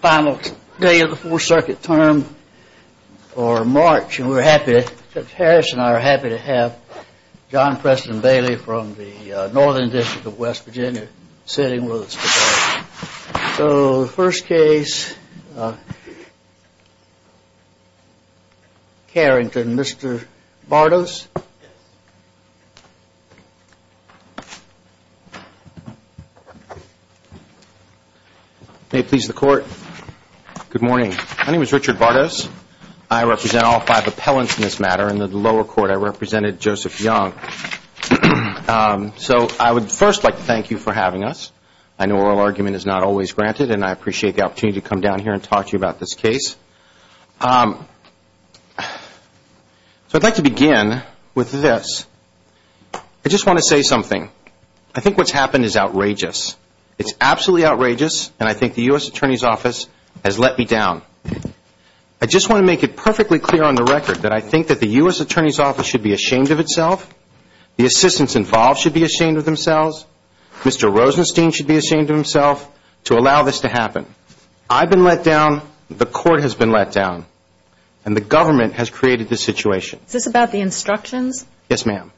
Final day of the 4th Circuit term for March and we are happy, Judge Harris and I are happy to have John Preston Bailey from the Northern District of West Virginia sitting with us today. So the first case, Carrington, Mr. Bartos. May it please the Court. Good morning. My name is Richard Bartos. I represent all five appellants in this matter. In the lower court I represented Joseph Young. So I would first like to thank you for having us. I know oral argument is not always granted and I appreciate the opportunity to come down here and talk to you about this case. So I'd like to begin with this. I just want to say something. I think what's happened is outrageous. It's absolutely outrageous and I think the U.S. Attorney's Office has let me down. I just want to make it perfectly clear on the record that I think that the U.S. Attorney's Office should be ashamed of itself, the assistants involved should be ashamed of themselves, Mr. Rosenstein should be ashamed of himself to allow this to happen. I've been let down, the Court has been let down, and the government has created this situation. Is this about the instructions? Yes, ma'am.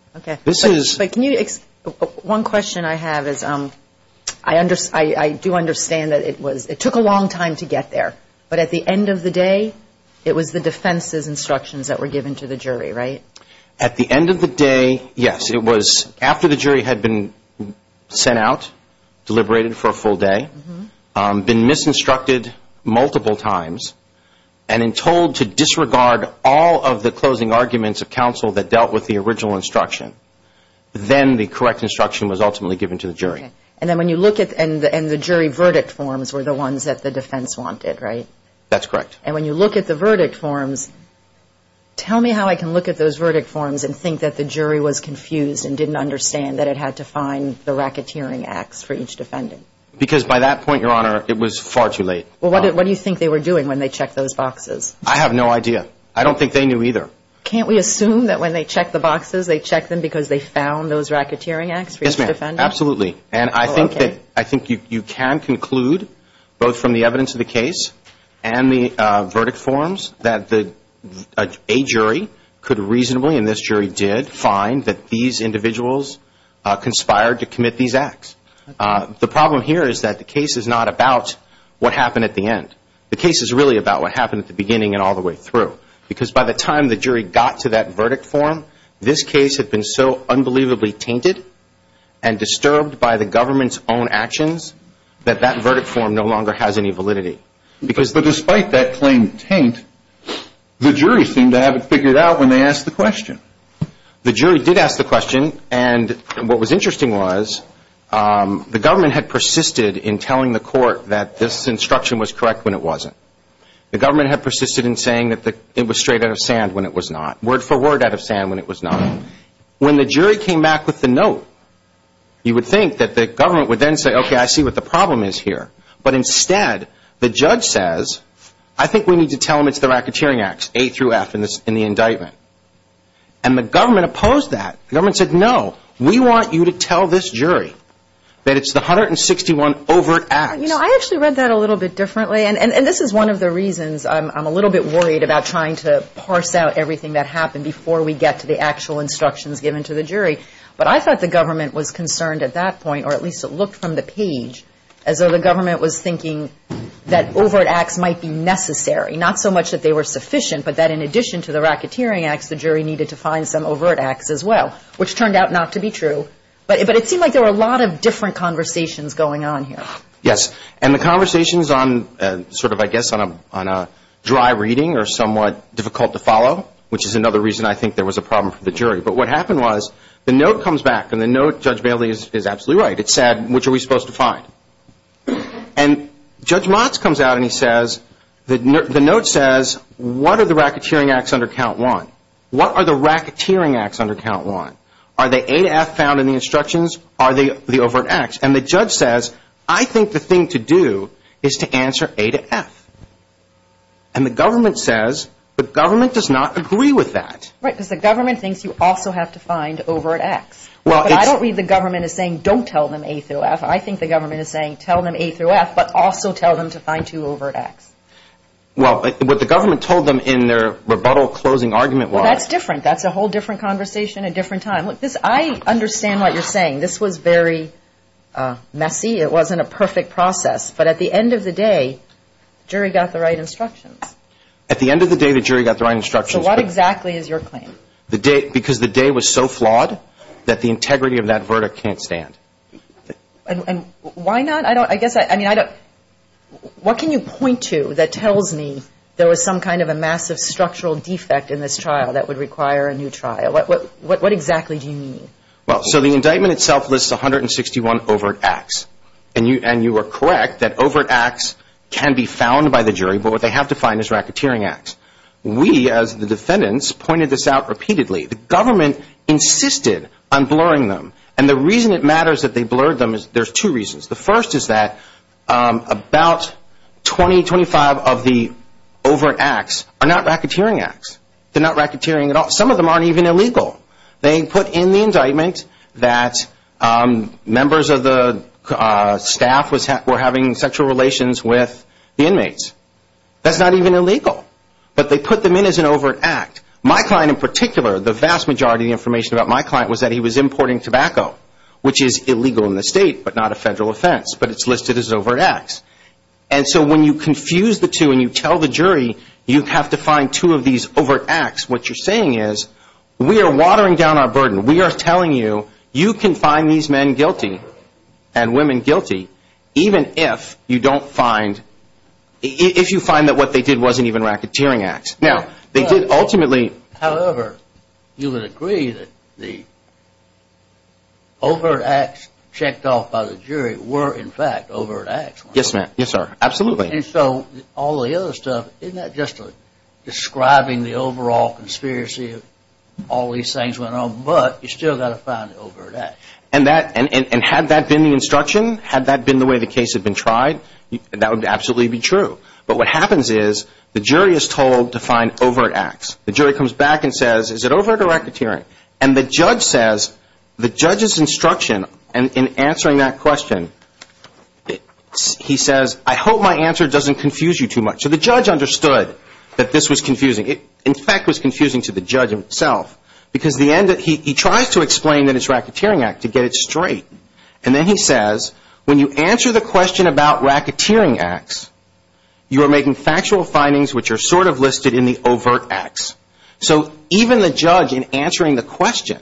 One question I have is I do understand that it took a long time to get there, but at the end of the day it was the defense's instructions that were given to the jury, right? At the end of the day, yes, it was after the jury had been sent out, deliberated for a full day, been misinstructed multiple times, and told to disregard all of the closing arguments of counsel that dealt with the original instruction. Then the correct instruction was ultimately given to the jury. And the jury verdict forms were the ones that the defense wanted, right? That's correct. And when you look at the verdict forms, tell me how I can look at those verdict forms and think that the jury was confused and didn't understand that it had to find the racketeering acts for each defendant. Because by that point, Your Honor, it was far too late. Well, what do you think they were doing when they checked those boxes? I have no idea. I don't think they knew either. Can't we assume that when they checked the boxes, they checked them because they found those racketeering acts for each defendant? Yes, ma'am, absolutely. And I think you can conclude, both from the evidence of the case and the verdict forms, that a jury could reasonably, and this jury did, find that these individuals conspired to commit these acts. The problem here is that the case is not about what happened at the end. The case is really about what happened at the beginning and all the way through. Because by the time the jury got to that verdict form, this case had been so unbelievably tainted and disturbed by the government's own actions that that verdict form no longer has any validity. But despite that claimed taint, the jury seemed to have it figured out when they asked the question. The jury did ask the question, and what was interesting was the government had persisted in telling the court that this instruction was correct when it wasn't. The government had persisted in saying that it was straight out of sand when it was not, word for word out of sand when it was not. When the jury came back with the note, you would think that the government would then say, okay, I see what the problem is here. But instead, the judge says, I think we need to tell them it's the racketeering acts, A through F, in the indictment. And the government opposed that. The government said, no, we want you to tell this jury that it's the 161 overt acts. You know, I actually read that a little bit differently. And this is one of the reasons I'm a little bit worried about trying to parse out everything that happened before we get to the actual instructions given to the jury. But I thought the government was concerned at that point, or at least it looked from the page, as though the government was thinking that overt acts might be necessary, not so much that they were sufficient, but that in addition to the racketeering acts, the jury needed to find some overt acts as well, which turned out not to be true. But it seemed like there were a lot of different conversations going on here. Yes. And the conversations on sort of, I guess, on a dry reading or somewhat difficult to follow, which is another reason I think there was a problem for the jury. But what happened was the note comes back, and the note, Judge Bailey, is absolutely right. It said, which are we supposed to find? And Judge Motz comes out and he says, the note says, what are the racketeering acts under count one? What are the racketeering acts under count one? Are they A to F found in the instructions? Are they the overt acts? And the judge says, I think the thing to do is to answer A to F. And the government says, the government does not agree with that. Right, because the government thinks you also have to find overt acts. But I don't read the government as saying, don't tell them A through F. I think the government is saying, tell them A through F, but also tell them to find two overt acts. Well, what the government told them in their rebuttal closing argument was. Well, that's different. That's a whole different conversation, a different time. Look, I understand what you're saying. This was very messy. It wasn't a perfect process. But at the end of the day, the jury got the right instructions. At the end of the day, the jury got the right instructions. So what exactly is your claim? Because the day was so flawed that the integrity of that verdict can't stand. And why not? I guess, I mean, I don't. What can you point to that tells me there was some kind of a massive structural defect in this trial that would require a new trial? What exactly do you mean? Well, so the indictment itself lists 161 overt acts. And you are correct that overt acts can be found by the jury, but what they have to find is racketeering acts. We, as the defendants, pointed this out repeatedly. The government insisted on blurring them. And the reason it matters that they blurred them is there's two reasons. The first is that about 20, 25 of the overt acts are not racketeering acts. They're not racketeering at all. Some of them aren't even illegal. They put in the indictment that members of the staff were having sexual relations with the inmates. That's not even illegal. But they put them in as an overt act. My client in particular, the vast majority of the information about my client was that he was importing tobacco, which is illegal in the state but not a federal offense, but it's listed as an overt act. And so when you confuse the two and you tell the jury you have to find two of these overt acts, what you're saying is we are watering down our burden. We are telling you you can find these men guilty and women guilty even if you don't find, if you find that what they did wasn't even racketeering acts. Now, they did ultimately. However, you would agree that the overt acts checked off by the jury were in fact overt acts. Yes, ma'am. Yes, sir. Absolutely. And so all the other stuff, isn't that just describing the overall conspiracy of all these things went on? But you still got to find the overt act. And had that been the instruction, had that been the way the case had been tried, that would absolutely be true. But what happens is the jury is told to find overt acts. The jury comes back and says, is it overt or racketeering? And the judge says, the judge's instruction in answering that question, he says, I hope my answer doesn't confuse you too much. So the judge understood that this was confusing. In fact, it was confusing to the judge himself because he tries to explain that it's a racketeering act to get it straight. And then he says, when you answer the question about racketeering acts, you are making factual findings which are sort of listed in the overt acts. So even the judge in answering the question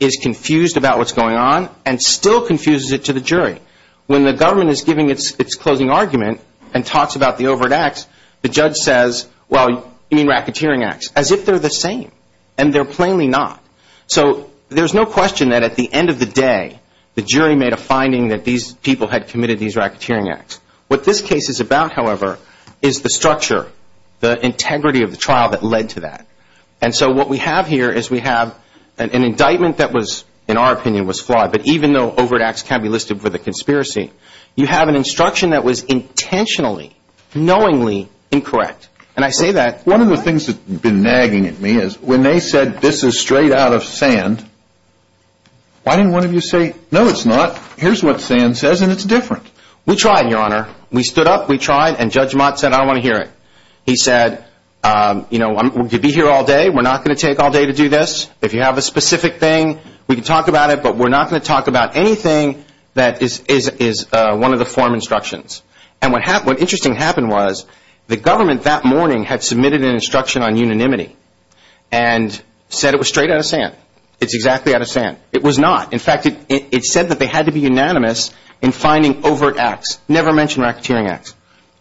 is confused about what's going on and still confuses it to the jury. When the government is giving its closing argument and talks about the overt acts, the judge says, well, you mean racketeering acts, as if they're the same. And they're plainly not. So there's no question that at the end of the day, the jury made a finding that these people had committed these racketeering acts. What this case is about, however, is the structure, the integrity of the trial that led to that. And so what we have here is we have an indictment that was, in our opinion, was flawed. But even though overt acts can be listed for the conspiracy, you have an instruction that was intentionally, knowingly incorrect. And I say that. One of the things that's been nagging at me is when they said this is straight out of sand, why didn't one of you say, no, it's not? Here's what sand says, and it's different. We tried, Your Honor. We stood up. We tried. And Judge Mott said, I don't want to hear it. He said, you know, I'm going to be here all day. We're not going to take all day to do this. If you have a specific thing, we can talk about it. But we're not going to talk about anything that is one of the form instructions. And what interesting happened was the government that morning had submitted an instruction on unanimity and said it was straight out of sand. It's exactly out of sand. It was not. In fact, it said that they had to be unanimous in finding overt acts. Never mention racketeering acts.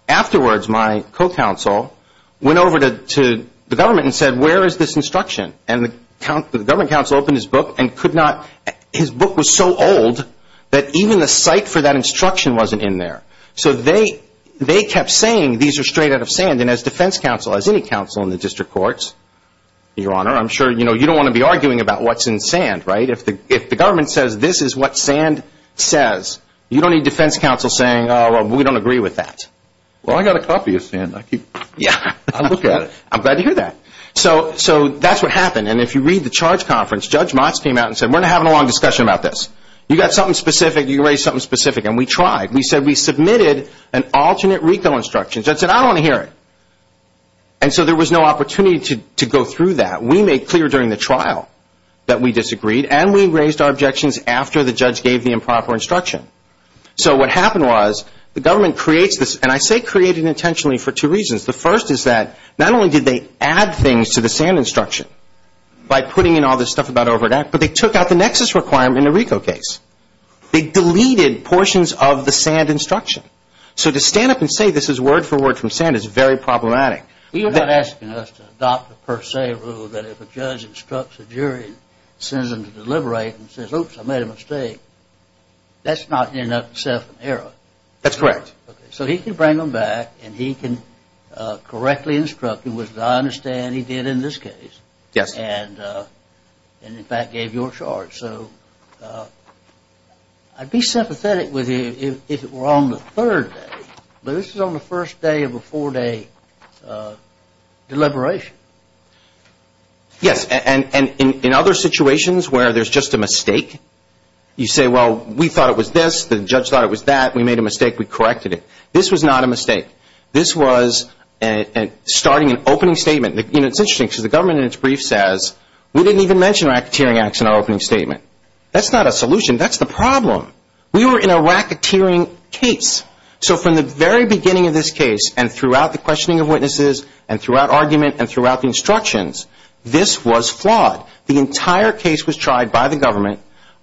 Afterwards, my co-counsel went over to the government and said, where is this instruction? And the government counsel opened his book and could not, his book was so old that even the site for that instruction wasn't in there. So they kept saying these are straight out of sand. And as defense counsel, as any counsel in the district courts, Your Honor, I'm sure, you know, you don't want to be arguing about what's in sand, right? If the government says this is what sand says, you don't need defense counsel saying, oh, well, we don't agree with that. Well, I got a copy of sand. I keep looking at it. I'm glad to hear that. So that's what happened. And if you read the charge conference, Judge Motz came out and said, we're not having a long discussion about this. You got something specific. You can raise something specific. And we tried. We said we submitted an alternate RICO instruction. Judge said, I don't want to hear it. And so there was no opportunity to go through that. But we made clear during the trial that we disagreed, and we raised our objections after the judge gave the improper instruction. So what happened was the government creates this, and I say created intentionally for two reasons. The first is that not only did they add things to the sand instruction by putting in all this stuff about overdraft, but they took out the nexus requirement in the RICO case. They deleted portions of the sand instruction. So to stand up and say this is word for word from sand is very problematic. You're not asking us to adopt a per se rule that if a judge instructs a jury and sends them to deliberate and says, oops, I made a mistake. That's not in up-to-seventh era. That's correct. So he can bring them back, and he can correctly instruct them, which I understand he did in this case. Yes. And, in fact, gave your charge. So I'd be sympathetic with you if it were on the third day, but this is on the first day of a four-day deliberation. Yes, and in other situations where there's just a mistake, you say, well, we thought it was this. The judge thought it was that. We made a mistake. This was not a mistake. This was starting an opening statement. You know, it's interesting because the government in its brief says, we didn't even mention racketeering acts in our opening statement. That's not a solution. That's the problem. We were in a racketeering case. So from the very beginning of this case and throughout the questioning of witnesses and throughout argument and throughout the instructions, this was flawed. The entire case was tried by the government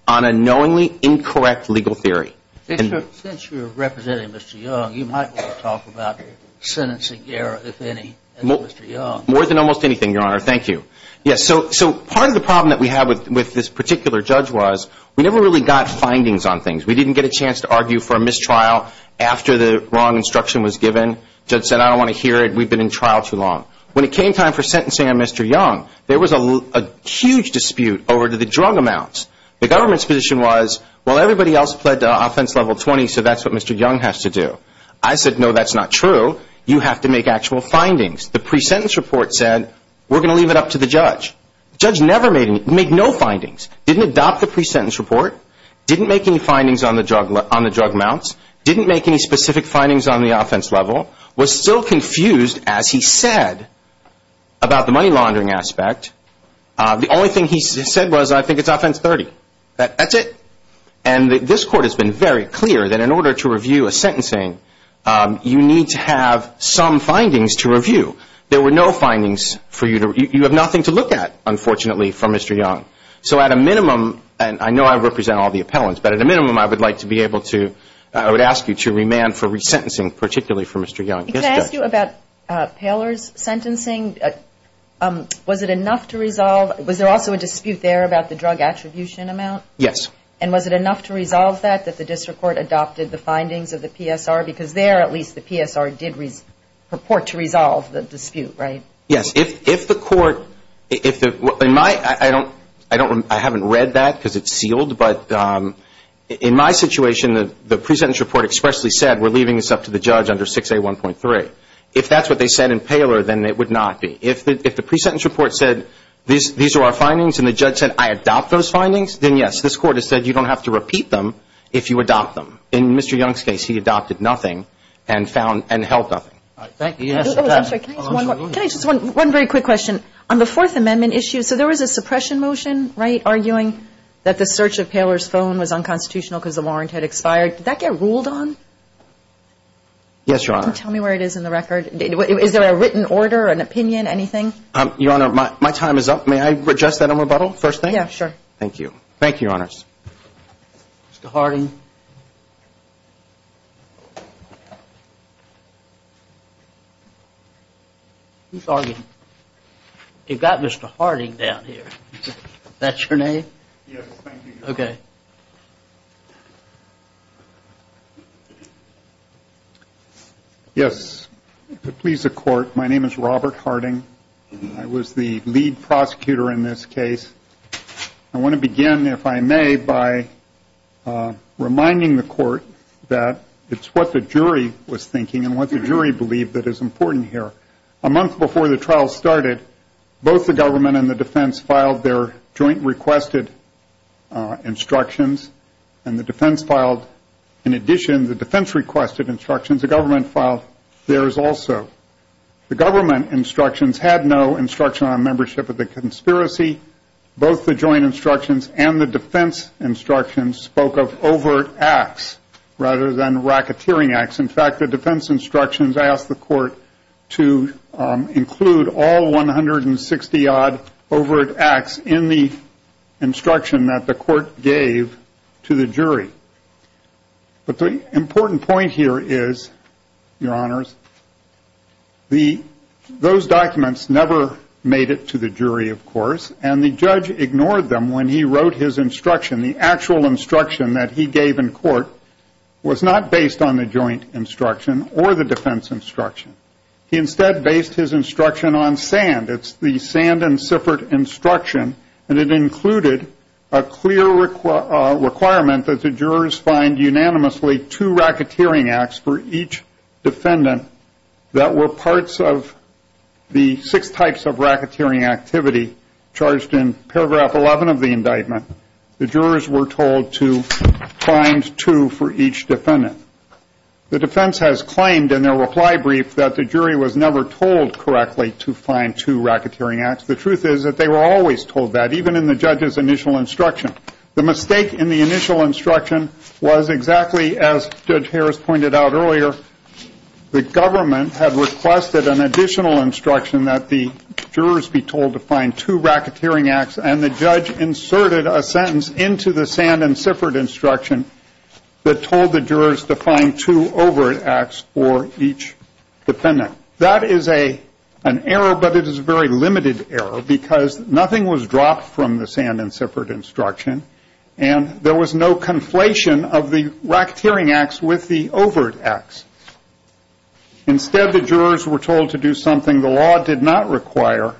on a knowingly incorrect legal theory. Since you're representing Mr. Young, you might want to talk about sentencing error, if any, as Mr. Young. More than almost anything, Your Honor. Thank you. Yes, so part of the problem that we had with this particular judge was we never really got findings on things. We didn't get a chance to argue for a mistrial after the wrong instruction was given. The judge said, I don't want to hear it. We've been in trial too long. When it came time for sentencing on Mr. Young, there was a huge dispute over the drug amounts. The government's position was, well, everybody else pled to offense level 20, so that's what Mr. Young has to do. I said, no, that's not true. You have to make actual findings. The pre-sentence report said, we're going to leave it up to the judge. The judge never made any, made no findings, didn't adopt the pre-sentence report, didn't make any findings on the drug amounts, didn't make any specific findings on the offense level, was still confused, as he said, about the money laundering aspect. The only thing he said was, I think it's offense 30. That's it. And this Court has been very clear that in order to review a sentencing, you need to have some findings to review. There were no findings for you to, you have nothing to look at, unfortunately, for Mr. Young. So at a minimum, and I know I represent all the appellants, but at a minimum I would like to be able to, I would ask you to remand for resentencing, particularly for Mr. Young. Yes, Judge. Can I ask you about Paler's sentencing? Was it enough to resolve, was there also a dispute there about the drug attribution amount? Yes. And was it enough to resolve that, that the district court adopted the findings of the PSR? Because there, at least, the PSR did purport to resolve the dispute, right? Yes. If the court, if the, in my, I don't, I haven't read that because it's sealed, but in my situation, the pre-sentence report expressly said we're leaving this up to the judge under 6A1.3. If that's what they said in Paler, then it would not be. If the pre-sentence report said these are our findings and the judge said I adopt those findings, then yes, this Court has said you don't have to repeat them if you adopt them. In Mr. Young's case, he adopted nothing and found, and held nothing. Thank you. I'm sorry. Can I just, one very quick question. On the Fourth Amendment issue, so there was a suppression motion, right, that the search of Paler's phone was unconstitutional because the warrant had expired. Did that get ruled on? Yes, Your Honor. Tell me where it is in the record. Is there a written order, an opinion, anything? Your Honor, my time is up. May I adjust that in rebuttal, first thing? Yeah, sure. Thank you. Thank you, Your Honors. Mr. Harding? Who's arguing? You've got Mr. Harding down here. That's your name? Yes, thank you, Your Honor. Okay. Yes. To please the Court, my name is Robert Harding. I was the lead prosecutor in this case. I want to begin, if I may, by reminding the Court that it's what the jury was thinking and what the jury believed that is important here. A month before the trial started, both the government and the defense filed their joint requested instructions, and the defense filed, in addition to the defense requested instructions, the government filed theirs also. The government instructions had no instruction on membership of the conspiracy. Both the joint instructions and the defense instructions spoke of overt acts rather than racketeering acts. In fact, the defense instructions asked the Court to include all 160-odd overt acts in the instruction that the Court gave to the jury. But the important point here is, Your Honors, those documents never made it to the jury, of course, and the judge ignored them when he wrote his instruction. The actual instruction that he gave in court was not based on the joint instruction or the defense instruction. He instead based his instruction on sand. It's the sand and siffert instruction, and it included a clear requirement that the jurors find unanimously two racketeering acts for each defendant that were parts of the six types of racketeering activity charged in paragraph 11 of the indictment. The jurors were told to find two for each defendant. The defense has claimed in their reply brief that the jury was never told correctly to find two racketeering acts. The truth is that they were always told that, even in the judge's initial instruction. The mistake in the initial instruction was exactly as Judge Harris pointed out earlier. The government had requested an additional instruction that the jurors be told to find two racketeering acts, and the judge inserted a sentence into the sand and siffert instruction that told the jurors to find two overt acts for each defendant. That is an error, but it is a very limited error because nothing was dropped from the sand and siffert instruction, and there was no conflation of the racketeering acts with the overt acts. Instead, the jurors were told to do something the law did not require,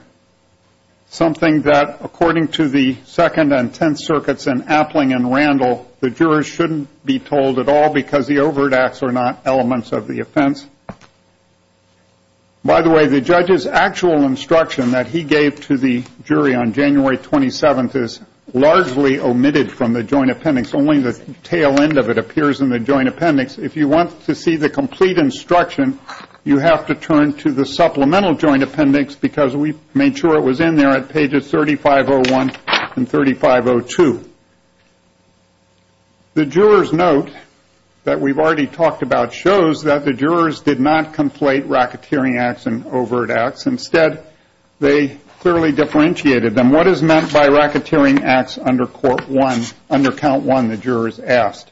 something that, according to the Second and Tenth Circuits in Appling and Randall, the jurors shouldn't be told at all because the overt acts are not elements of the offense. By the way, the judge's actual instruction that he gave to the jury on January 27th is largely omitted from the joint appendix. Only the tail end of it appears in the joint appendix. If you want to see the complete instruction, you have to turn to the supplemental joint appendix because we made sure it was in there at pages 3501 and 3502. The juror's note that we've already talked about shows that the jurors did not conflate racketeering acts and overt acts. Instead, they clearly differentiated them. What is meant by racketeering acts under count one, the jurors asked?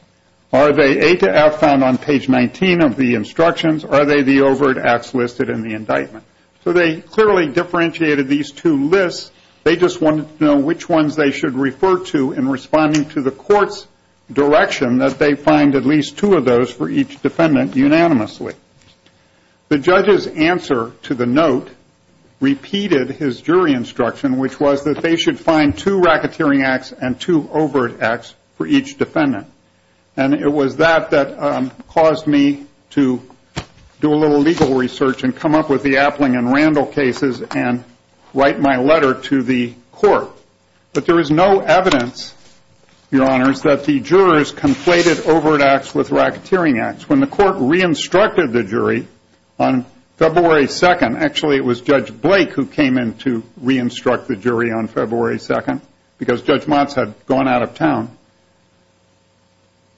Are they A to F found on page 19 of the instructions? Are they the overt acts listed in the indictment? So they clearly differentiated these two lists. They just wanted to know which ones they should refer to in responding to the court's direction that they find at least two of those for each defendant unanimously. The judge's answer to the note repeated his jury instruction, which was that they should find two racketeering acts and two overt acts for each defendant. And it was that that caused me to do a little legal research and come up with the Appling and Randall cases and write my letter to the court. But there is no evidence, Your Honors, that the jurors conflated overt acts with racketeering acts. When the court re-instructed the jury on February 2nd, actually it was Judge Blake who came in to re-instruct the jury on February 2nd because Judge Motz had gone out of town.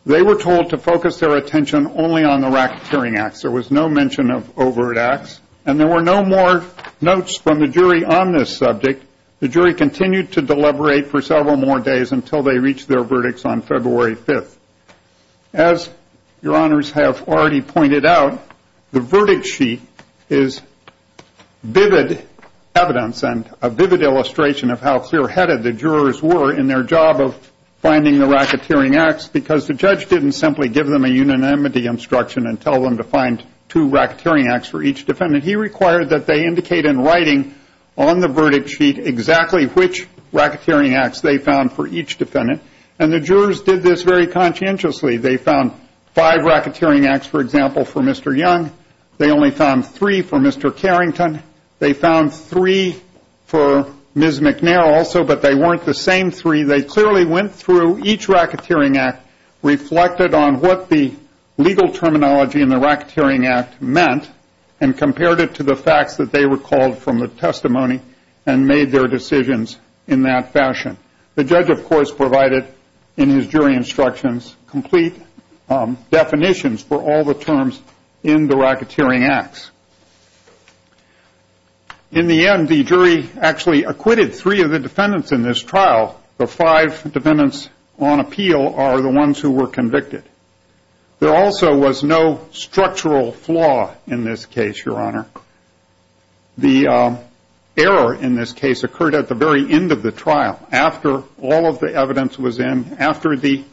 They were told to focus their attention only on the racketeering acts. There was no mention of overt acts. And there were no more notes from the jury on this subject. The jury continued to deliberate for several more days until they reached their verdicts on February 5th. As Your Honors have already pointed out, the verdict sheet is vivid evidence and a vivid illustration of how clear-headed the jurors were in their job of finding the racketeering acts because the judge didn't simply give them a unanimity instruction and tell them to find two racketeering acts for each defendant. He required that they indicate in writing on the verdict sheet exactly which racketeering acts they found for each defendant. And the jurors did this very conscientiously. They found five racketeering acts, for example, for Mr. Young. They only found three for Mr. Carrington. They found three for Ms. McNair also, but they weren't the same three. They clearly went through each racketeering act, reflected on what the legal terminology in the racketeering act meant, and compared it to the facts that they recalled from the testimony and made their decisions in that fashion. The judge, of course, provided in his jury instructions complete definitions for all the terms in the racketeering acts. In the end, the jury actually acquitted three of the defendants in this trial. The five defendants on appeal are the ones who were convicted. There also was no structural flaw in this case, Your Honor. The error in this case occurred at the very end of the trial, after all of the evidence was in, after the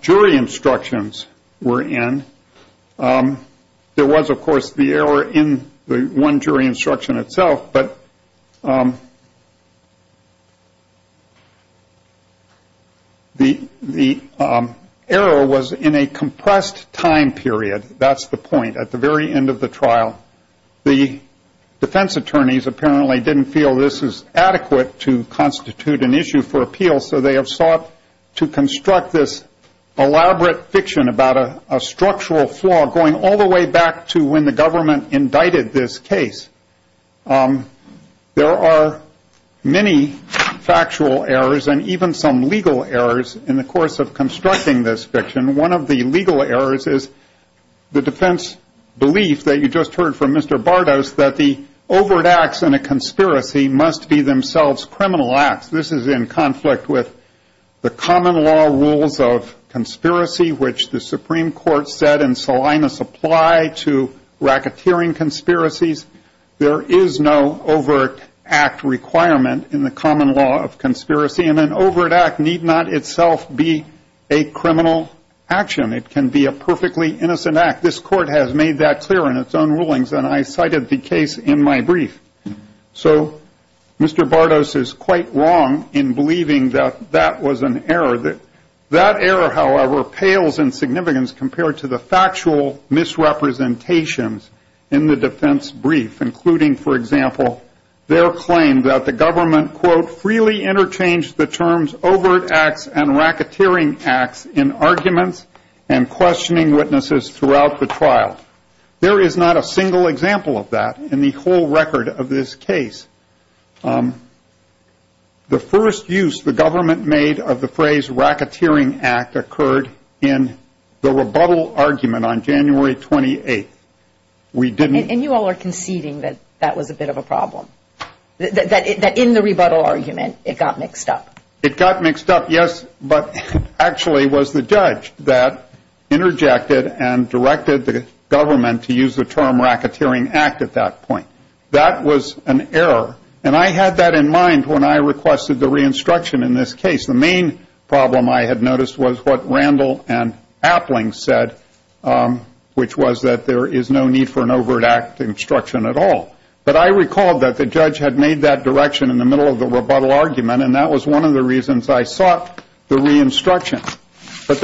jury instructions were in. There was, of course, the error in the one jury instruction itself, but the error was in a compressed time period. That's the point, at the very end of the trial. The defense attorneys apparently didn't feel this is adequate to constitute an issue for appeal, so they have sought to construct this elaborate fiction about a structural flaw going all the way back to when the government indicted this case. There are many factual errors and even some legal errors in the course of constructing this fiction. One of the legal errors is the defense belief that you just heard from Mr. Bardos that the overt acts in a conspiracy must be themselves criminal acts. This is in conflict with the common law rules of conspiracy, which the Supreme Court said in Salinas apply to racketeering conspiracies. There is no overt act requirement in the common law of conspiracy, and an overt act need not itself be a criminal action. It can be a perfectly innocent act. This court has made that clear in its own rulings, and I cited the case in my brief. So Mr. Bardos is quite wrong in believing that that was an error. That error, however, pales in significance compared to the factual misrepresentations in the defense brief, including, for example, their claim that the government, quote, freely interchanged the terms overt acts and racketeering acts in arguments and questioning witnesses throughout the trial. There is not a single example of that in the whole record of this case. The first use the government made of the phrase racketeering act occurred in the rebuttal argument on January 28th. And you all are conceding that that was a bit of a problem, that in the rebuttal argument it got mixed up. It got mixed up, yes, but actually it was the judge that interjected and directed the government to use the term racketeering act at that point. That was an error, and I had that in mind when I requested the re-instruction in this case. The main problem I had noticed was what Randall and Appling said, which was that there is no need for an overt act instruction at all. But I recalled that the judge had made that direction in the middle of the rebuttal argument, and that was one of the reasons I sought the re-instruction. But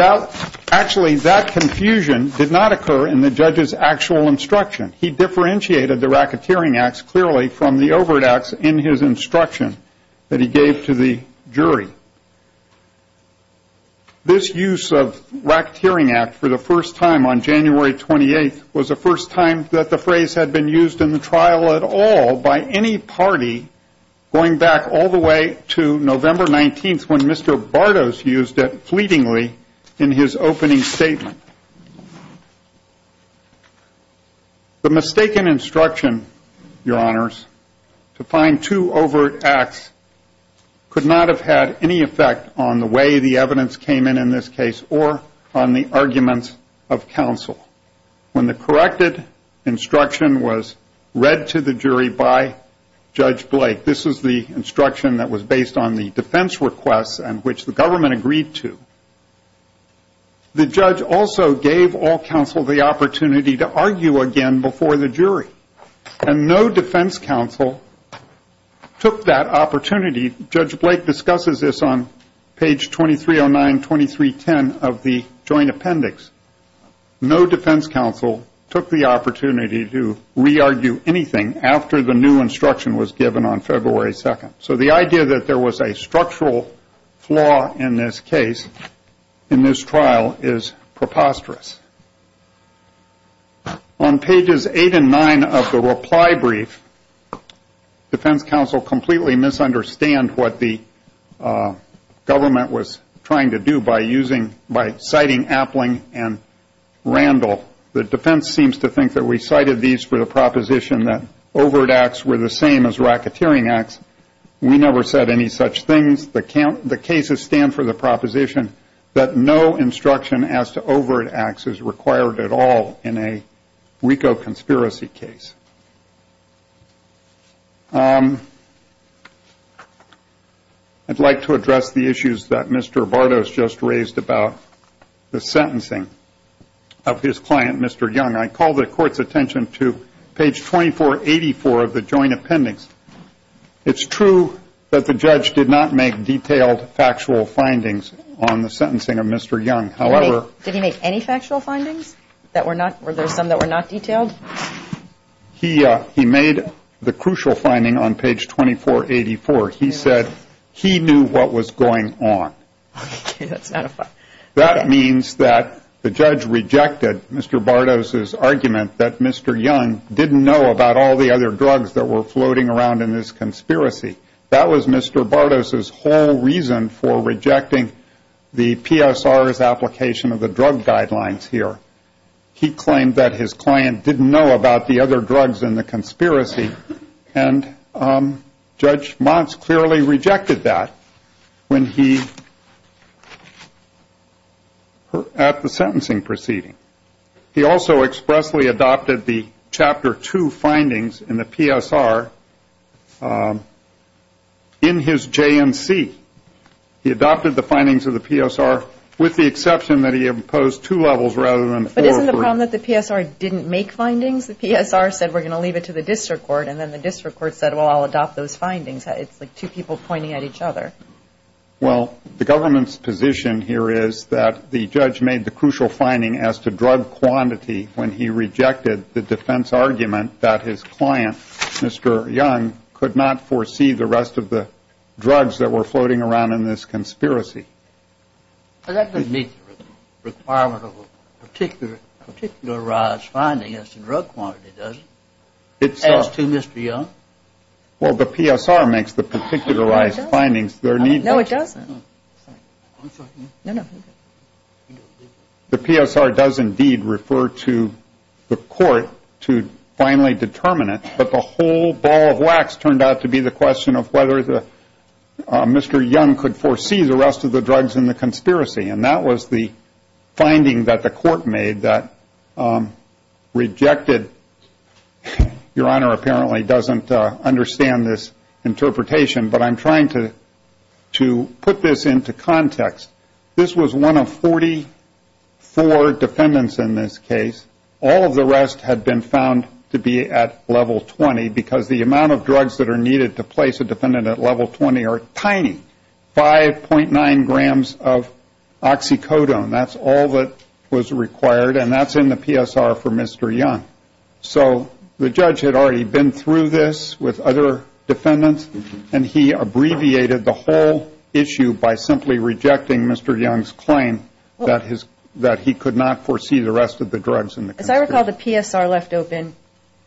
actually that confusion did not occur in the judge's actual instruction. He differentiated the racketeering acts clearly from the overt acts in his instruction that he gave to the jury. This use of racketeering act for the first time on January 28th was the first time that the phrase had been used in the trial at all by any party, going back all the way to November 19th when Mr. Bardo's used it fleetingly in his opening statement. The mistaken instruction, your honors, to find two overt acts could not have had any effect on the way the evidence came in in this case or on the arguments of counsel. When the corrected instruction was read to the jury by Judge Blake, this is the instruction that was based on the defense requests and which the government agreed to, the judge also gave all counsel the opportunity to argue again before the jury. And no defense counsel took that opportunity. Judge Blake discusses this on page 2309, 2310 of the joint appendix. No defense counsel took the opportunity to re-argue anything after the new instruction was given on February 2nd. So the idea that there was a structural flaw in this case, in this trial, is preposterous. On pages eight and nine of the reply brief, defense counsel completely misunderstand what the government was trying to do by citing Appling and Randall. The defense seems to think that we cited these for the proposition that overt acts were the same as racketeering acts. We never said any such things. The cases stand for the proposition that no instruction as to overt acts is required at all in a WICO conspiracy case. I'd like to address the issues that Mr. Vardos just raised about the sentencing of his client, Mr. Young. I call the court's attention to page 2484 of the joint appendix. It's true that the judge did not make detailed factual findings on the sentencing of Mr. Young. Did he make any factual findings? Were there some that were not detailed? He made the crucial finding on page 2484. He said he knew what was going on. That means that the judge rejected Mr. Vardos' argument that Mr. Young didn't know about all the other drugs that were floating around in this conspiracy. That was Mr. Vardos' whole reason for rejecting the PSR's application of the drug guidelines here. He claimed that his client didn't know about the other drugs in the conspiracy, and Judge Montz clearly rejected that at the sentencing proceeding. He also expressly adopted the Chapter 2 findings in the PSR in his JNC. He adopted the findings of the PSR with the exception that he imposed two levels rather than four or three. But isn't the problem that the PSR didn't make findings? The PSR said we're going to leave it to the district court, and then the district court said, well, I'll adopt those findings. It's like two people pointing at each other. Well, the government's position here is that the judge made the crucial finding as to drug quantity when he rejected the defense argument that his client, Mr. Young, could not foresee the rest of the drugs that were floating around in this conspiracy. But that doesn't meet the requirement of a particularized finding as to drug quantity, does it, as to Mr. Young? Well, the PSR makes the particularized findings. No, it doesn't. The PSR does indeed refer to the court to finally determine it, but the whole ball of wax turned out to be the question of whether Mr. Young could foresee the rest of the drugs in the conspiracy. And that was the finding that the court made that rejected. Your Honor apparently doesn't understand this interpretation, but I'm trying to put this into context. This was one of 44 defendants in this case. All of the rest had been found to be at level 20 because the amount of drugs that are needed to place a defendant at level 20 are tiny. 5.9 grams of oxycodone, that's all that was required, and that's in the PSR for Mr. Young. So the judge had already been through this with other defendants, and he abbreviated the whole issue by simply rejecting Mr. Young's claim that he could not foresee the rest of the drugs in the conspiracy. As I recall, the PSR left open,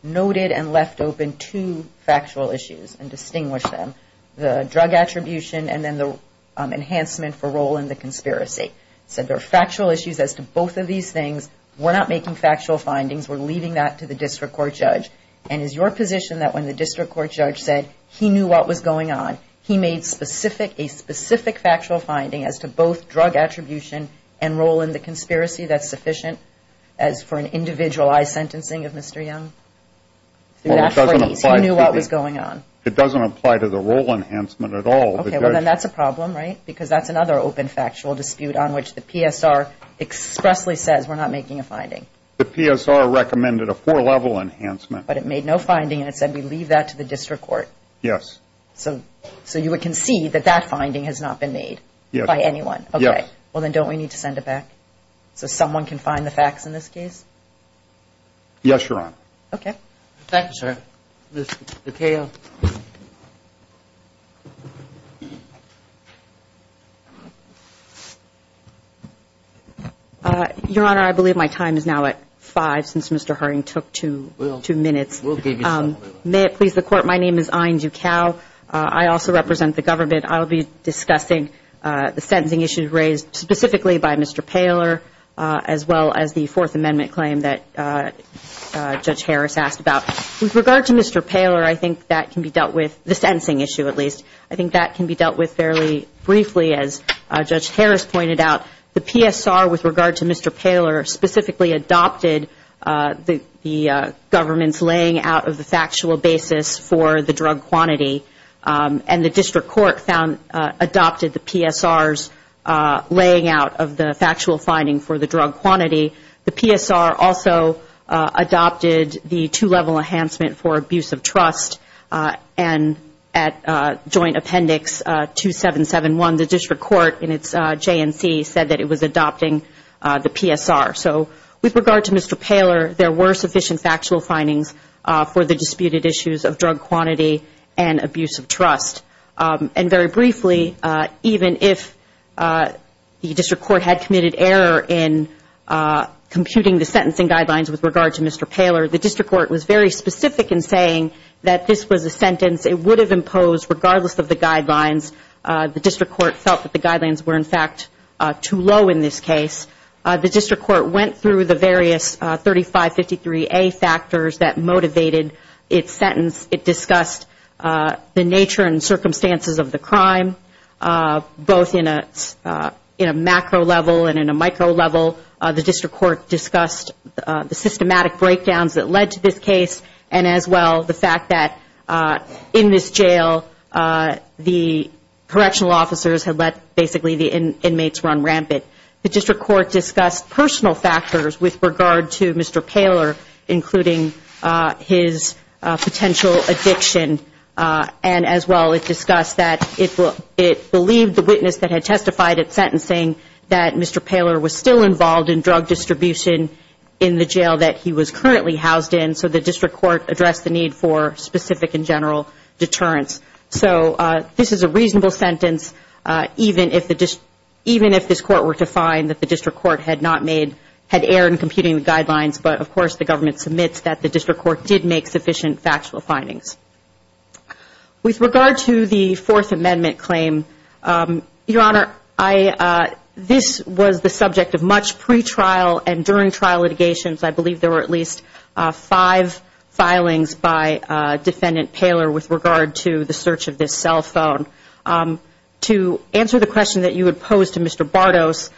noted and left open two factual issues and distinguished them, the drug attribution and then the enhancement for role in the conspiracy. It said there are factual issues as to both of these things. We're not making factual findings. We're leaving that to the district court judge. And is your position that when the district court judge said he knew what was going on, he made a specific factual finding as to both drug attribution and role in the conspiracy, that's sufficient for an individualized sentencing of Mr. Young? Through that phrase, he knew what was going on. It doesn't apply to the role enhancement at all. Okay. Well, then that's a problem, right? Because that's another open factual dispute on which the PSR expressly says we're not making a finding. The PSR recommended a four-level enhancement. But it made no finding, and it said we leave that to the district court. Yes. So you would concede that that finding has not been made by anyone? Yes. Okay. Well, then don't we need to send it back so someone can find the facts in this case? Yes, Your Honor. Okay. Thank you, sir. Ms. DeCaio. Your Honor, I believe my time is now at 5 since Mr. Harding took two minutes. We'll give you some. May it please the Court, my name is Ayn Ducal. I also represent the government. I'll be discussing the sentencing issues raised specifically by Mr. Paler, as well as the Fourth Amendment claim that Judge Harris asked about. With regard to Mr. Paler, I think that can be dealt with, the sentencing issue at least, I think that can be dealt with fairly briefly, as Judge Harris pointed out. The PSR, with regard to Mr. Paler, specifically adopted the government's laying out of the factual basis for the drug quantity. And the district court adopted the PSR's laying out of the factual finding for the drug quantity. The PSR also adopted the two-level enhancement for abuse of trust. And at Joint Appendix 2771, the district court in its JNC said that it was adopting the PSR. So with regard to Mr. Paler, there were sufficient factual findings for the disputed issues of drug quantity and abuse of trust. And very briefly, even if the district court had committed error in computing the sentencing guidelines with regard to Mr. Paler, the district court was very specific in saying that this was a sentence it would have imposed regardless of the guidelines. The district court felt that the guidelines were, in fact, too low in this case. The district court went through the various 3553A factors that motivated its sentence. It discussed the nature and circumstances of the crime, both in a macro level and in a micro level. The district court discussed the systematic breakdowns that led to this case, and as well the fact that in this jail, the correctional officers had let basically the inmates run rampant. The district court discussed personal factors with regard to Mr. Paler, including his potential addiction, and as well it discussed that it believed the witness that had testified at sentencing that Mr. Paler was still involved in drug distribution in the jail that he was currently housed in. So the district court addressed the need for specific and general deterrence. So this is a reasonable sentence, even if this court were to find that the district court had error in computing the guidelines, but of course the government submits that the district court did make sufficient factual findings. With regard to the Fourth Amendment claim, Your Honor, this was the subject of much pre-trial and during trial litigations. I believe there were at least five filings by Defendant Paler with regard to the search of this cell phone. To answer the question that you had posed to Mr. Bartos,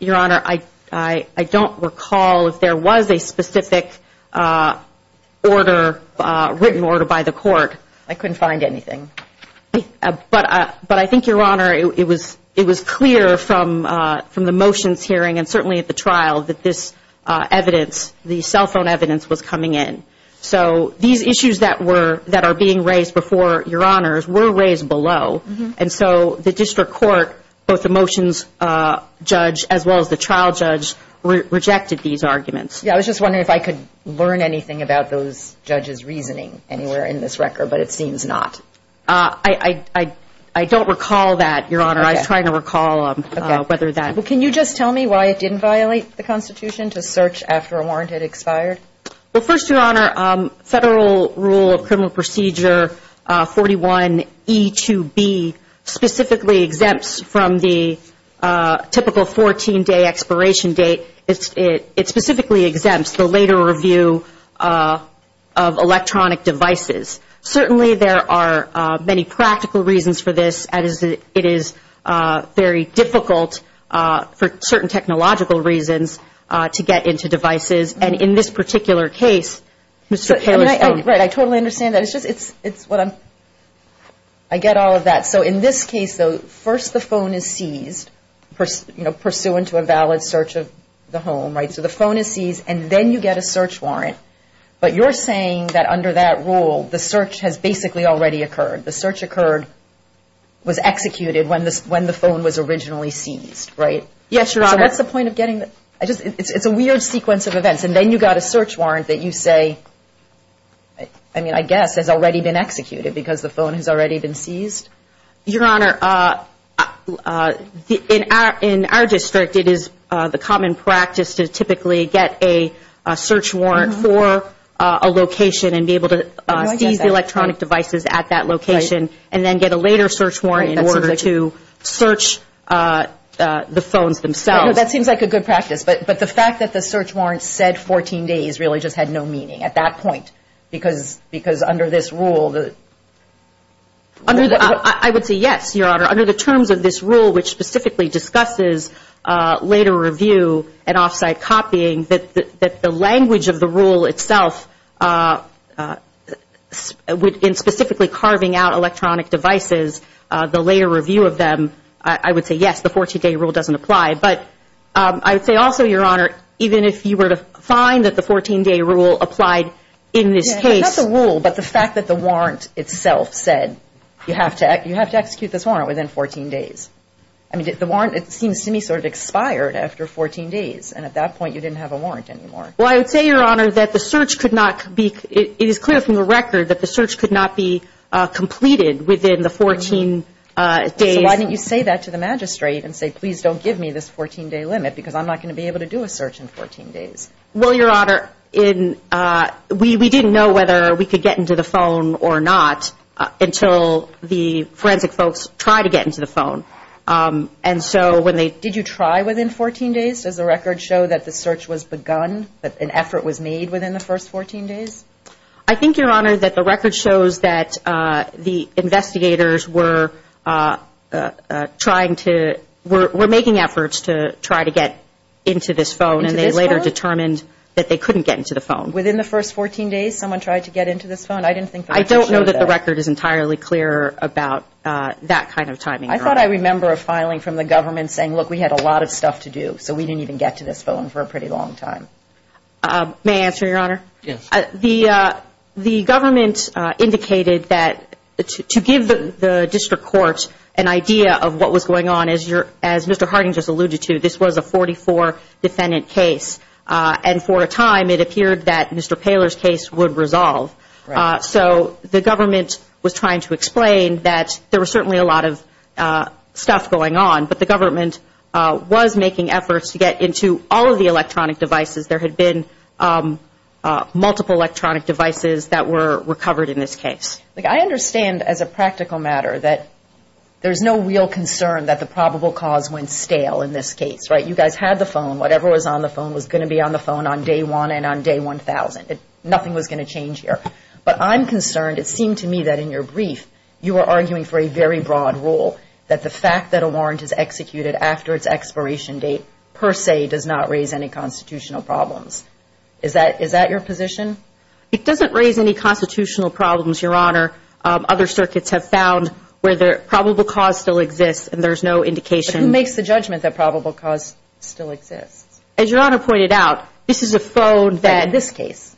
Your Honor, I don't recall if there was a specific written order by the court. I couldn't find anything. But I think, Your Honor, it was clear from the motions hearing and certainly at the trial that this evidence, the cell phone evidence, was coming in. So these issues that are being raised before Your Honors were raised below, and so the district court, both the motions judge as well as the trial judge, rejected these arguments. Yeah, I was just wondering if I could learn anything about those judges' reasoning anywhere in this record, but it seems not. I don't recall that, Your Honor. I was trying to recall whether that. Well, can you just tell me why it didn't violate the Constitution to search after a warrant had expired? Well, first, Your Honor, federal rule of criminal procedure 41E2B specifically exempts from the typical 14-day expiration date. It specifically exempts the later review of electronic devices. Certainly there are many practical reasons for this. It is very difficult for certain technological reasons to get into devices. And in this particular case, Mr. Poehler's phone. Right, I totally understand that. It's just, it's what I'm, I get all of that. Yeah, so in this case, though, first the phone is seized, you know, pursuant to a valid search of the home, right? So the phone is seized, and then you get a search warrant. But you're saying that under that rule, the search has basically already occurred. The search occurred, was executed when the phone was originally seized, right? Yes, Your Honor. So what's the point of getting, it's a weird sequence of events. And then you got a search warrant that you say, I mean, I guess has already been executed because the phone has already been seized? Your Honor, in our district, it is the common practice to typically get a search warrant for a location and be able to seize electronic devices at that location. And then get a later search warrant in order to search the phones themselves. That seems like a good practice. But the fact that the search warrant said 14 days really just had no meaning at that point. Because under this rule. I would say yes, Your Honor. Under the terms of this rule, which specifically discusses later review and off-site copying, that the language of the rule itself in specifically carving out electronic devices, the later review of them, I would say yes, the 14-day rule doesn't apply. But I would say also, Your Honor, even if you were to find that the 14-day rule applied in this case. Not the rule, but the fact that the warrant itself said you have to execute this warrant within 14 days. I mean, the warrant, it seems to me, sort of expired after 14 days. And at that point, you didn't have a warrant anymore. Well, I would say, Your Honor, that the search could not be, it is clear from the record that the search could not be completed within the 14 days. So why didn't you say that to the magistrate and say, please don't give me this 14-day limit because I'm not going to be able to do a search in 14 days? Well, Your Honor, we didn't know whether we could get into the phone or not until the forensic folks tried to get into the phone. And so when they... Did you try within 14 days? Does the record show that the search was begun, that an effort was made within the first 14 days? I think, Your Honor, that the record shows that the investigators were trying to... were making efforts to try to get into this phone. Into this phone? And they later determined that they couldn't get into the phone. Within the first 14 days, someone tried to get into this phone? I didn't think... I don't know that the record is entirely clear about that kind of timing. I thought I remember a filing from the government saying, look, we had a lot of stuff to do, so we didn't even get to this phone for a pretty long time. May I answer, Your Honor? Yes. The government indicated that to give the district court an idea of what was going on, as Mr. Harding just alluded to, this was a 44 defendant case. And for a time, it appeared that Mr. Poehler's case would resolve. So the government was trying to explain that there was certainly a lot of stuff going on, but the government was making efforts to get into all of the electronic devices. There had been multiple electronic devices that were recovered in this case. Look, I understand as a practical matter that there's no real concern that the probable cause went stale in this case, right? You guys had the phone. Whatever was on the phone was going to be on the phone on day one and on day 1,000. Nothing was going to change here. But I'm concerned. It seemed to me that in your brief, you were arguing for a very broad rule that the fact that a warrant is executed after its expiration date per se does not raise any constitutional problems. Is that your position? It doesn't raise any constitutional problems, Your Honor. Other circuits have found where the probable cause still exists, and there's no indication. But who makes the judgment that probable cause still exists? As Your Honor pointed out, this is a phone that in this case,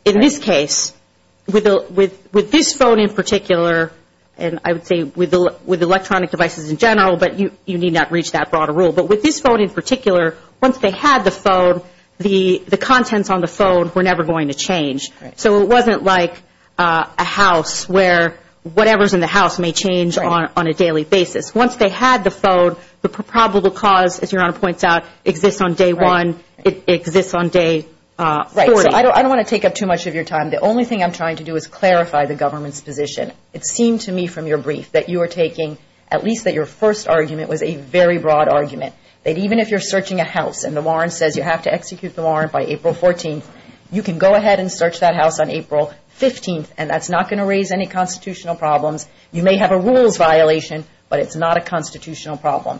with this phone in particular, and I would say with electronic devices in general, but you need not reach that broader rule. But with this phone in particular, once they had the phone, the contents on the phone were never going to change. So it wasn't like a house where whatever's in the house may change on a daily basis. Once they had the phone, the probable cause, as Your Honor points out, exists on day one. It exists on day 40. I don't want to take up too much of your time. The only thing I'm trying to do is clarify the government's position. It seemed to me from your brief that you were taking at least that your first argument was a very broad argument, that even if you're searching a house and the warrant says you have to execute the warrant by April 14th, you can go ahead and search that house on April 15th, and that's not going to raise any constitutional problems. You may have a rules violation, but it's not a constitutional problem.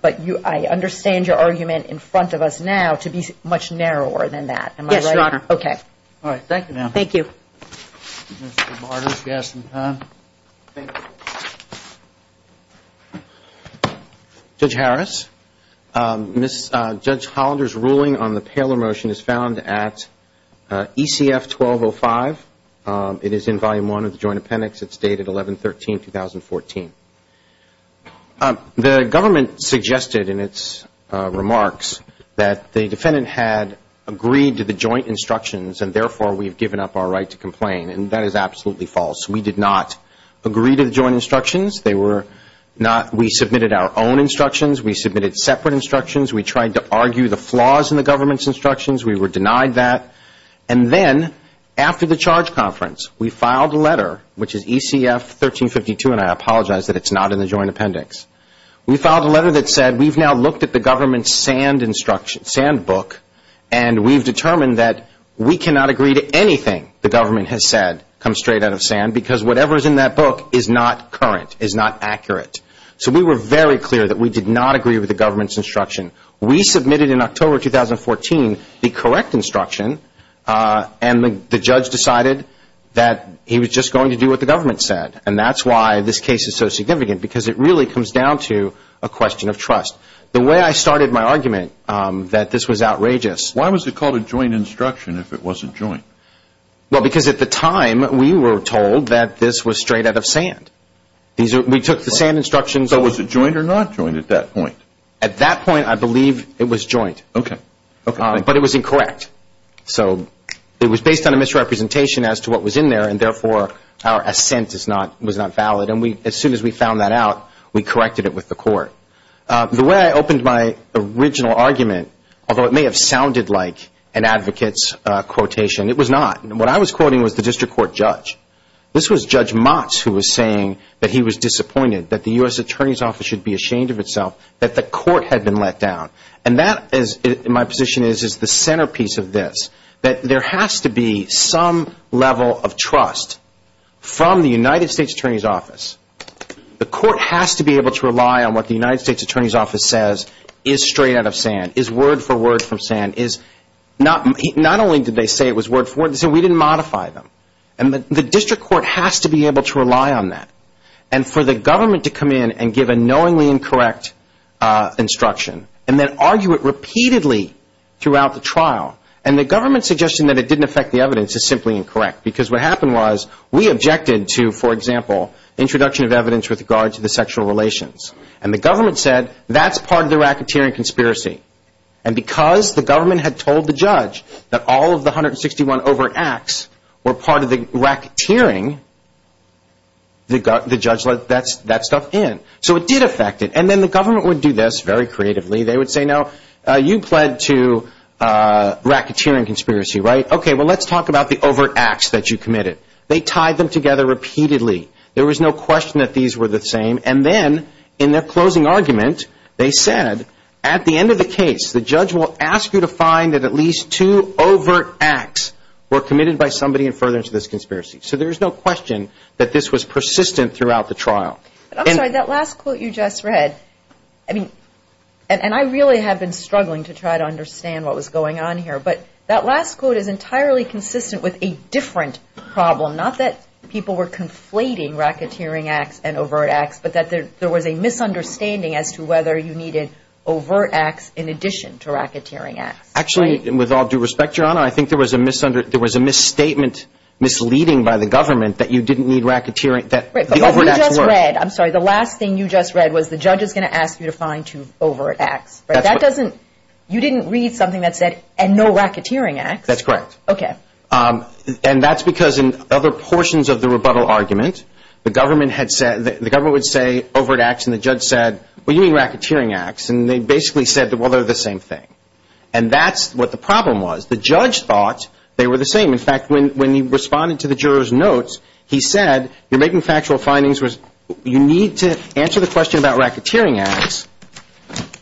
But I understand your argument in front of us now to be much narrower than that. Am I right? Okay. All right. Thank you, ma'am. Thank you. Mr. Martyrs, gas and time. Thank you. Judge Harris, Judge Hollander's ruling on the Paylor motion is found at ECF 1205. It is in Volume 1 of the Joint Appendix. It's dated 11-13-2014. The government suggested in its remarks that the defendant had agreed to the joint instructions and therefore we have given up our right to complain, and that is absolutely false. We did not agree to the joint instructions. We submitted our own instructions. We submitted separate instructions. We tried to argue the flaws in the government's instructions. We were denied that. And then after the charge conference, we filed a letter, which is ECF 1352, and I apologize that it's not in the Joint Appendix. We filed a letter that said we've now looked at the government's sand book and we've determined that we cannot agree to anything the government has said come straight out of sand because whatever is in that book is not current, is not accurate. So we were very clear that we did not agree with the government's instruction. We submitted in October 2014 the correct instruction, and the judge decided that he was just going to do what the government said, and that's why this case is so significant because it really comes down to a question of trust. The way I started my argument that this was outrageous. Why was it called a joint instruction if it wasn't joint? Well, because at the time, we were told that this was straight out of sand. We took the sand instructions. So was it joint or not joint at that point? At that point, I believe it was joint. Okay. But it was incorrect. So it was based on a misrepresentation as to what was in there, and therefore our assent was not valid. And as soon as we found that out, we corrected it with the court. The way I opened my original argument, although it may have sounded like an advocate's quotation, it was not. What I was quoting was the district court judge. This was Judge Motz who was saying that he was disappointed, that the U.S. Attorney's Office should be ashamed of itself, that the court had been let down. And that, my position is, is the centerpiece of this, that there has to be some level of trust from the United States Attorney's Office. The court has to be able to rely on what the United States Attorney's Office says is straight out of sand, is word for word from sand. Not only did they say it was word for word, they said we didn't modify them. And the district court has to be able to rely on that. And for the government to come in and give a knowingly incorrect instruction and then argue it repeatedly throughout the trial, and the government's suggestion that it didn't affect the evidence is simply incorrect. Because what happened was we objected to, for example, introduction of evidence with regard to the sexual relations. And the government said that's part of the racketeering conspiracy. And because the government had told the judge that all of the 161 overt acts were part of the racketeering, the judge let that stuff in. So it did affect it. And then the government would do this very creatively. They would say, no, you pled to racketeering conspiracy, right? Okay, well, let's talk about the overt acts that you committed. They tied them together repeatedly. There was no question that these were the same. And then in their closing argument, they said at the end of the case, the judge will ask you to find that at least two overt acts were committed by somebody and further into this conspiracy. So there's no question that this was persistent throughout the trial. I'm sorry, that last quote you just read, I mean, and I really have been struggling to try to understand what was going on here, but that last quote is entirely consistent with a different problem, not that people were conflating racketeering acts and overt acts, but that there was a misunderstanding as to whether you needed overt acts in addition to racketeering acts. Actually, with all due respect, Your Honor, I think there was a misstatement misleading by the government that you didn't need racketeering, that the overt acts were. I'm sorry, the last thing you just read was the judge is going to ask you to find two overt acts. That doesn't, you didn't read something that said, and no racketeering acts. That's correct. Okay. And that's because in other portions of the rebuttal argument, the government had said, the government would say overt acts, and the judge said, well, you mean racketeering acts. And they basically said, well, they're the same thing. And that's what the problem was. The judge thought they were the same. In fact, when he responded to the juror's notes, he said, you're making factual findings, you need to answer the question about racketeering acts,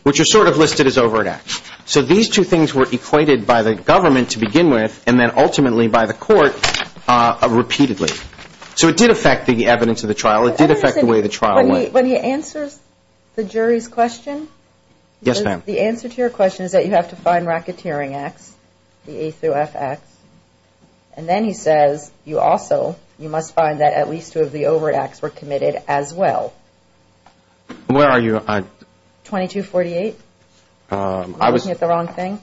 which are sort of listed as overt acts. So these two things were equated by the government to begin with, and then ultimately by the court repeatedly. So it did affect the evidence of the trial. It did affect the way the trial went. When he answers the jury's question, Yes, ma'am. the answer to your question is that you have to find racketeering acts, the A through F acts. And then he says, you also, you must find that at least two of the overt acts were committed as well. Where are you? 2248. Am I looking at the wrong thing?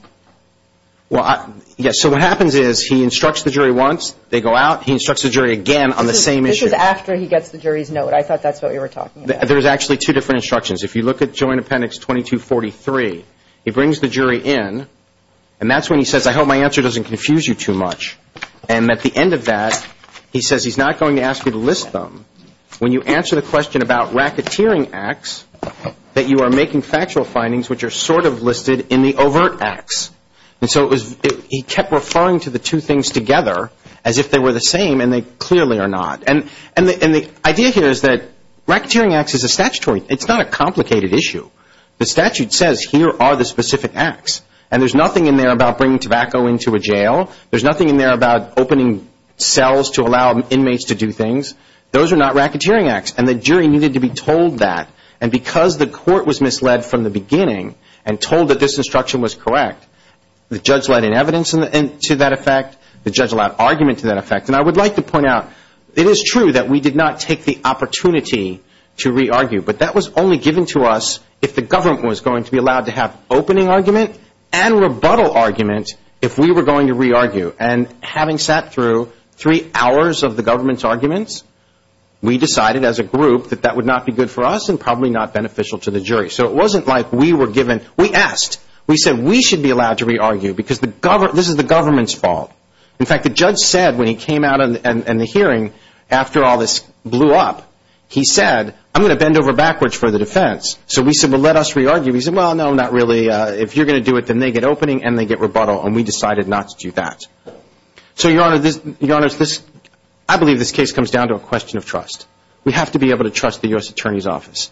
Well, yes. So what happens is he instructs the jury once, they go out, he instructs the jury again on the same issue. This is after he gets the jury's note. I thought that's what you were talking about. There's actually two different instructions. If you look at Joint Appendix 2243, he brings the jury in, and that's when he says, I hope my answer doesn't confuse you too much. And at the end of that, he says he's not going to ask you to list them. When you answer the question about racketeering acts, that you are making factual findings which are sort of listed in the overt acts. And so he kept referring to the two things together as if they were the same, and they clearly are not. And the idea here is that racketeering acts is a statutory, it's not a complicated issue. The statute says here are the specific acts. And there's nothing in there about bringing tobacco into a jail. There's nothing in there about opening cells to allow inmates to do things. Those are not racketeering acts. And the jury needed to be told that. And because the court was misled from the beginning and told that this instruction was correct, the judge led in evidence to that effect, the judge allowed argument to that effect. And I would like to point out, it is true that we did not take the opportunity to re-argue, but that was only given to us if the government was going to be allowed to have opening argument and rebuttal argument if we were going to re-argue. And having sat through three hours of the government's arguments, we decided as a group that that would not be good for us and probably not beneficial to the jury. So it wasn't like we were given, we asked. We said we should be allowed to re-argue because this is the government's fault. In fact, the judge said when he came out in the hearing after all this blew up, he said, I'm going to bend over backwards for the defense. So we said, well, let us re-argue. He said, well, no, not really. If you're going to do it, then they get opening and they get rebuttal, and we decided not to do that. So, Your Honor, I believe this case comes down to a question of trust. We have to be able to trust the U.S. Attorney's Office.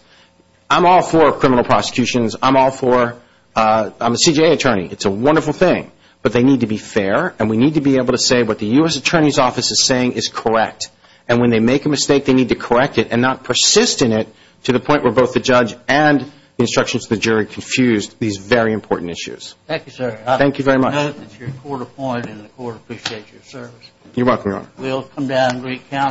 I'm all for criminal prosecutions. I'm all for, I'm a CJA attorney. It's a wonderful thing, but they need to be fair, and we need to be able to say what the U.S. Attorney's Office is saying is correct. And when they make a mistake, they need to correct it and not persist in it to the point where both the judge and the instructions to the jury confused these very important issues. Thank you, sir. Thank you very much. I note that you're court-appointed and the court appreciates your service. You're welcome, Your Honor. We'll come down and recount.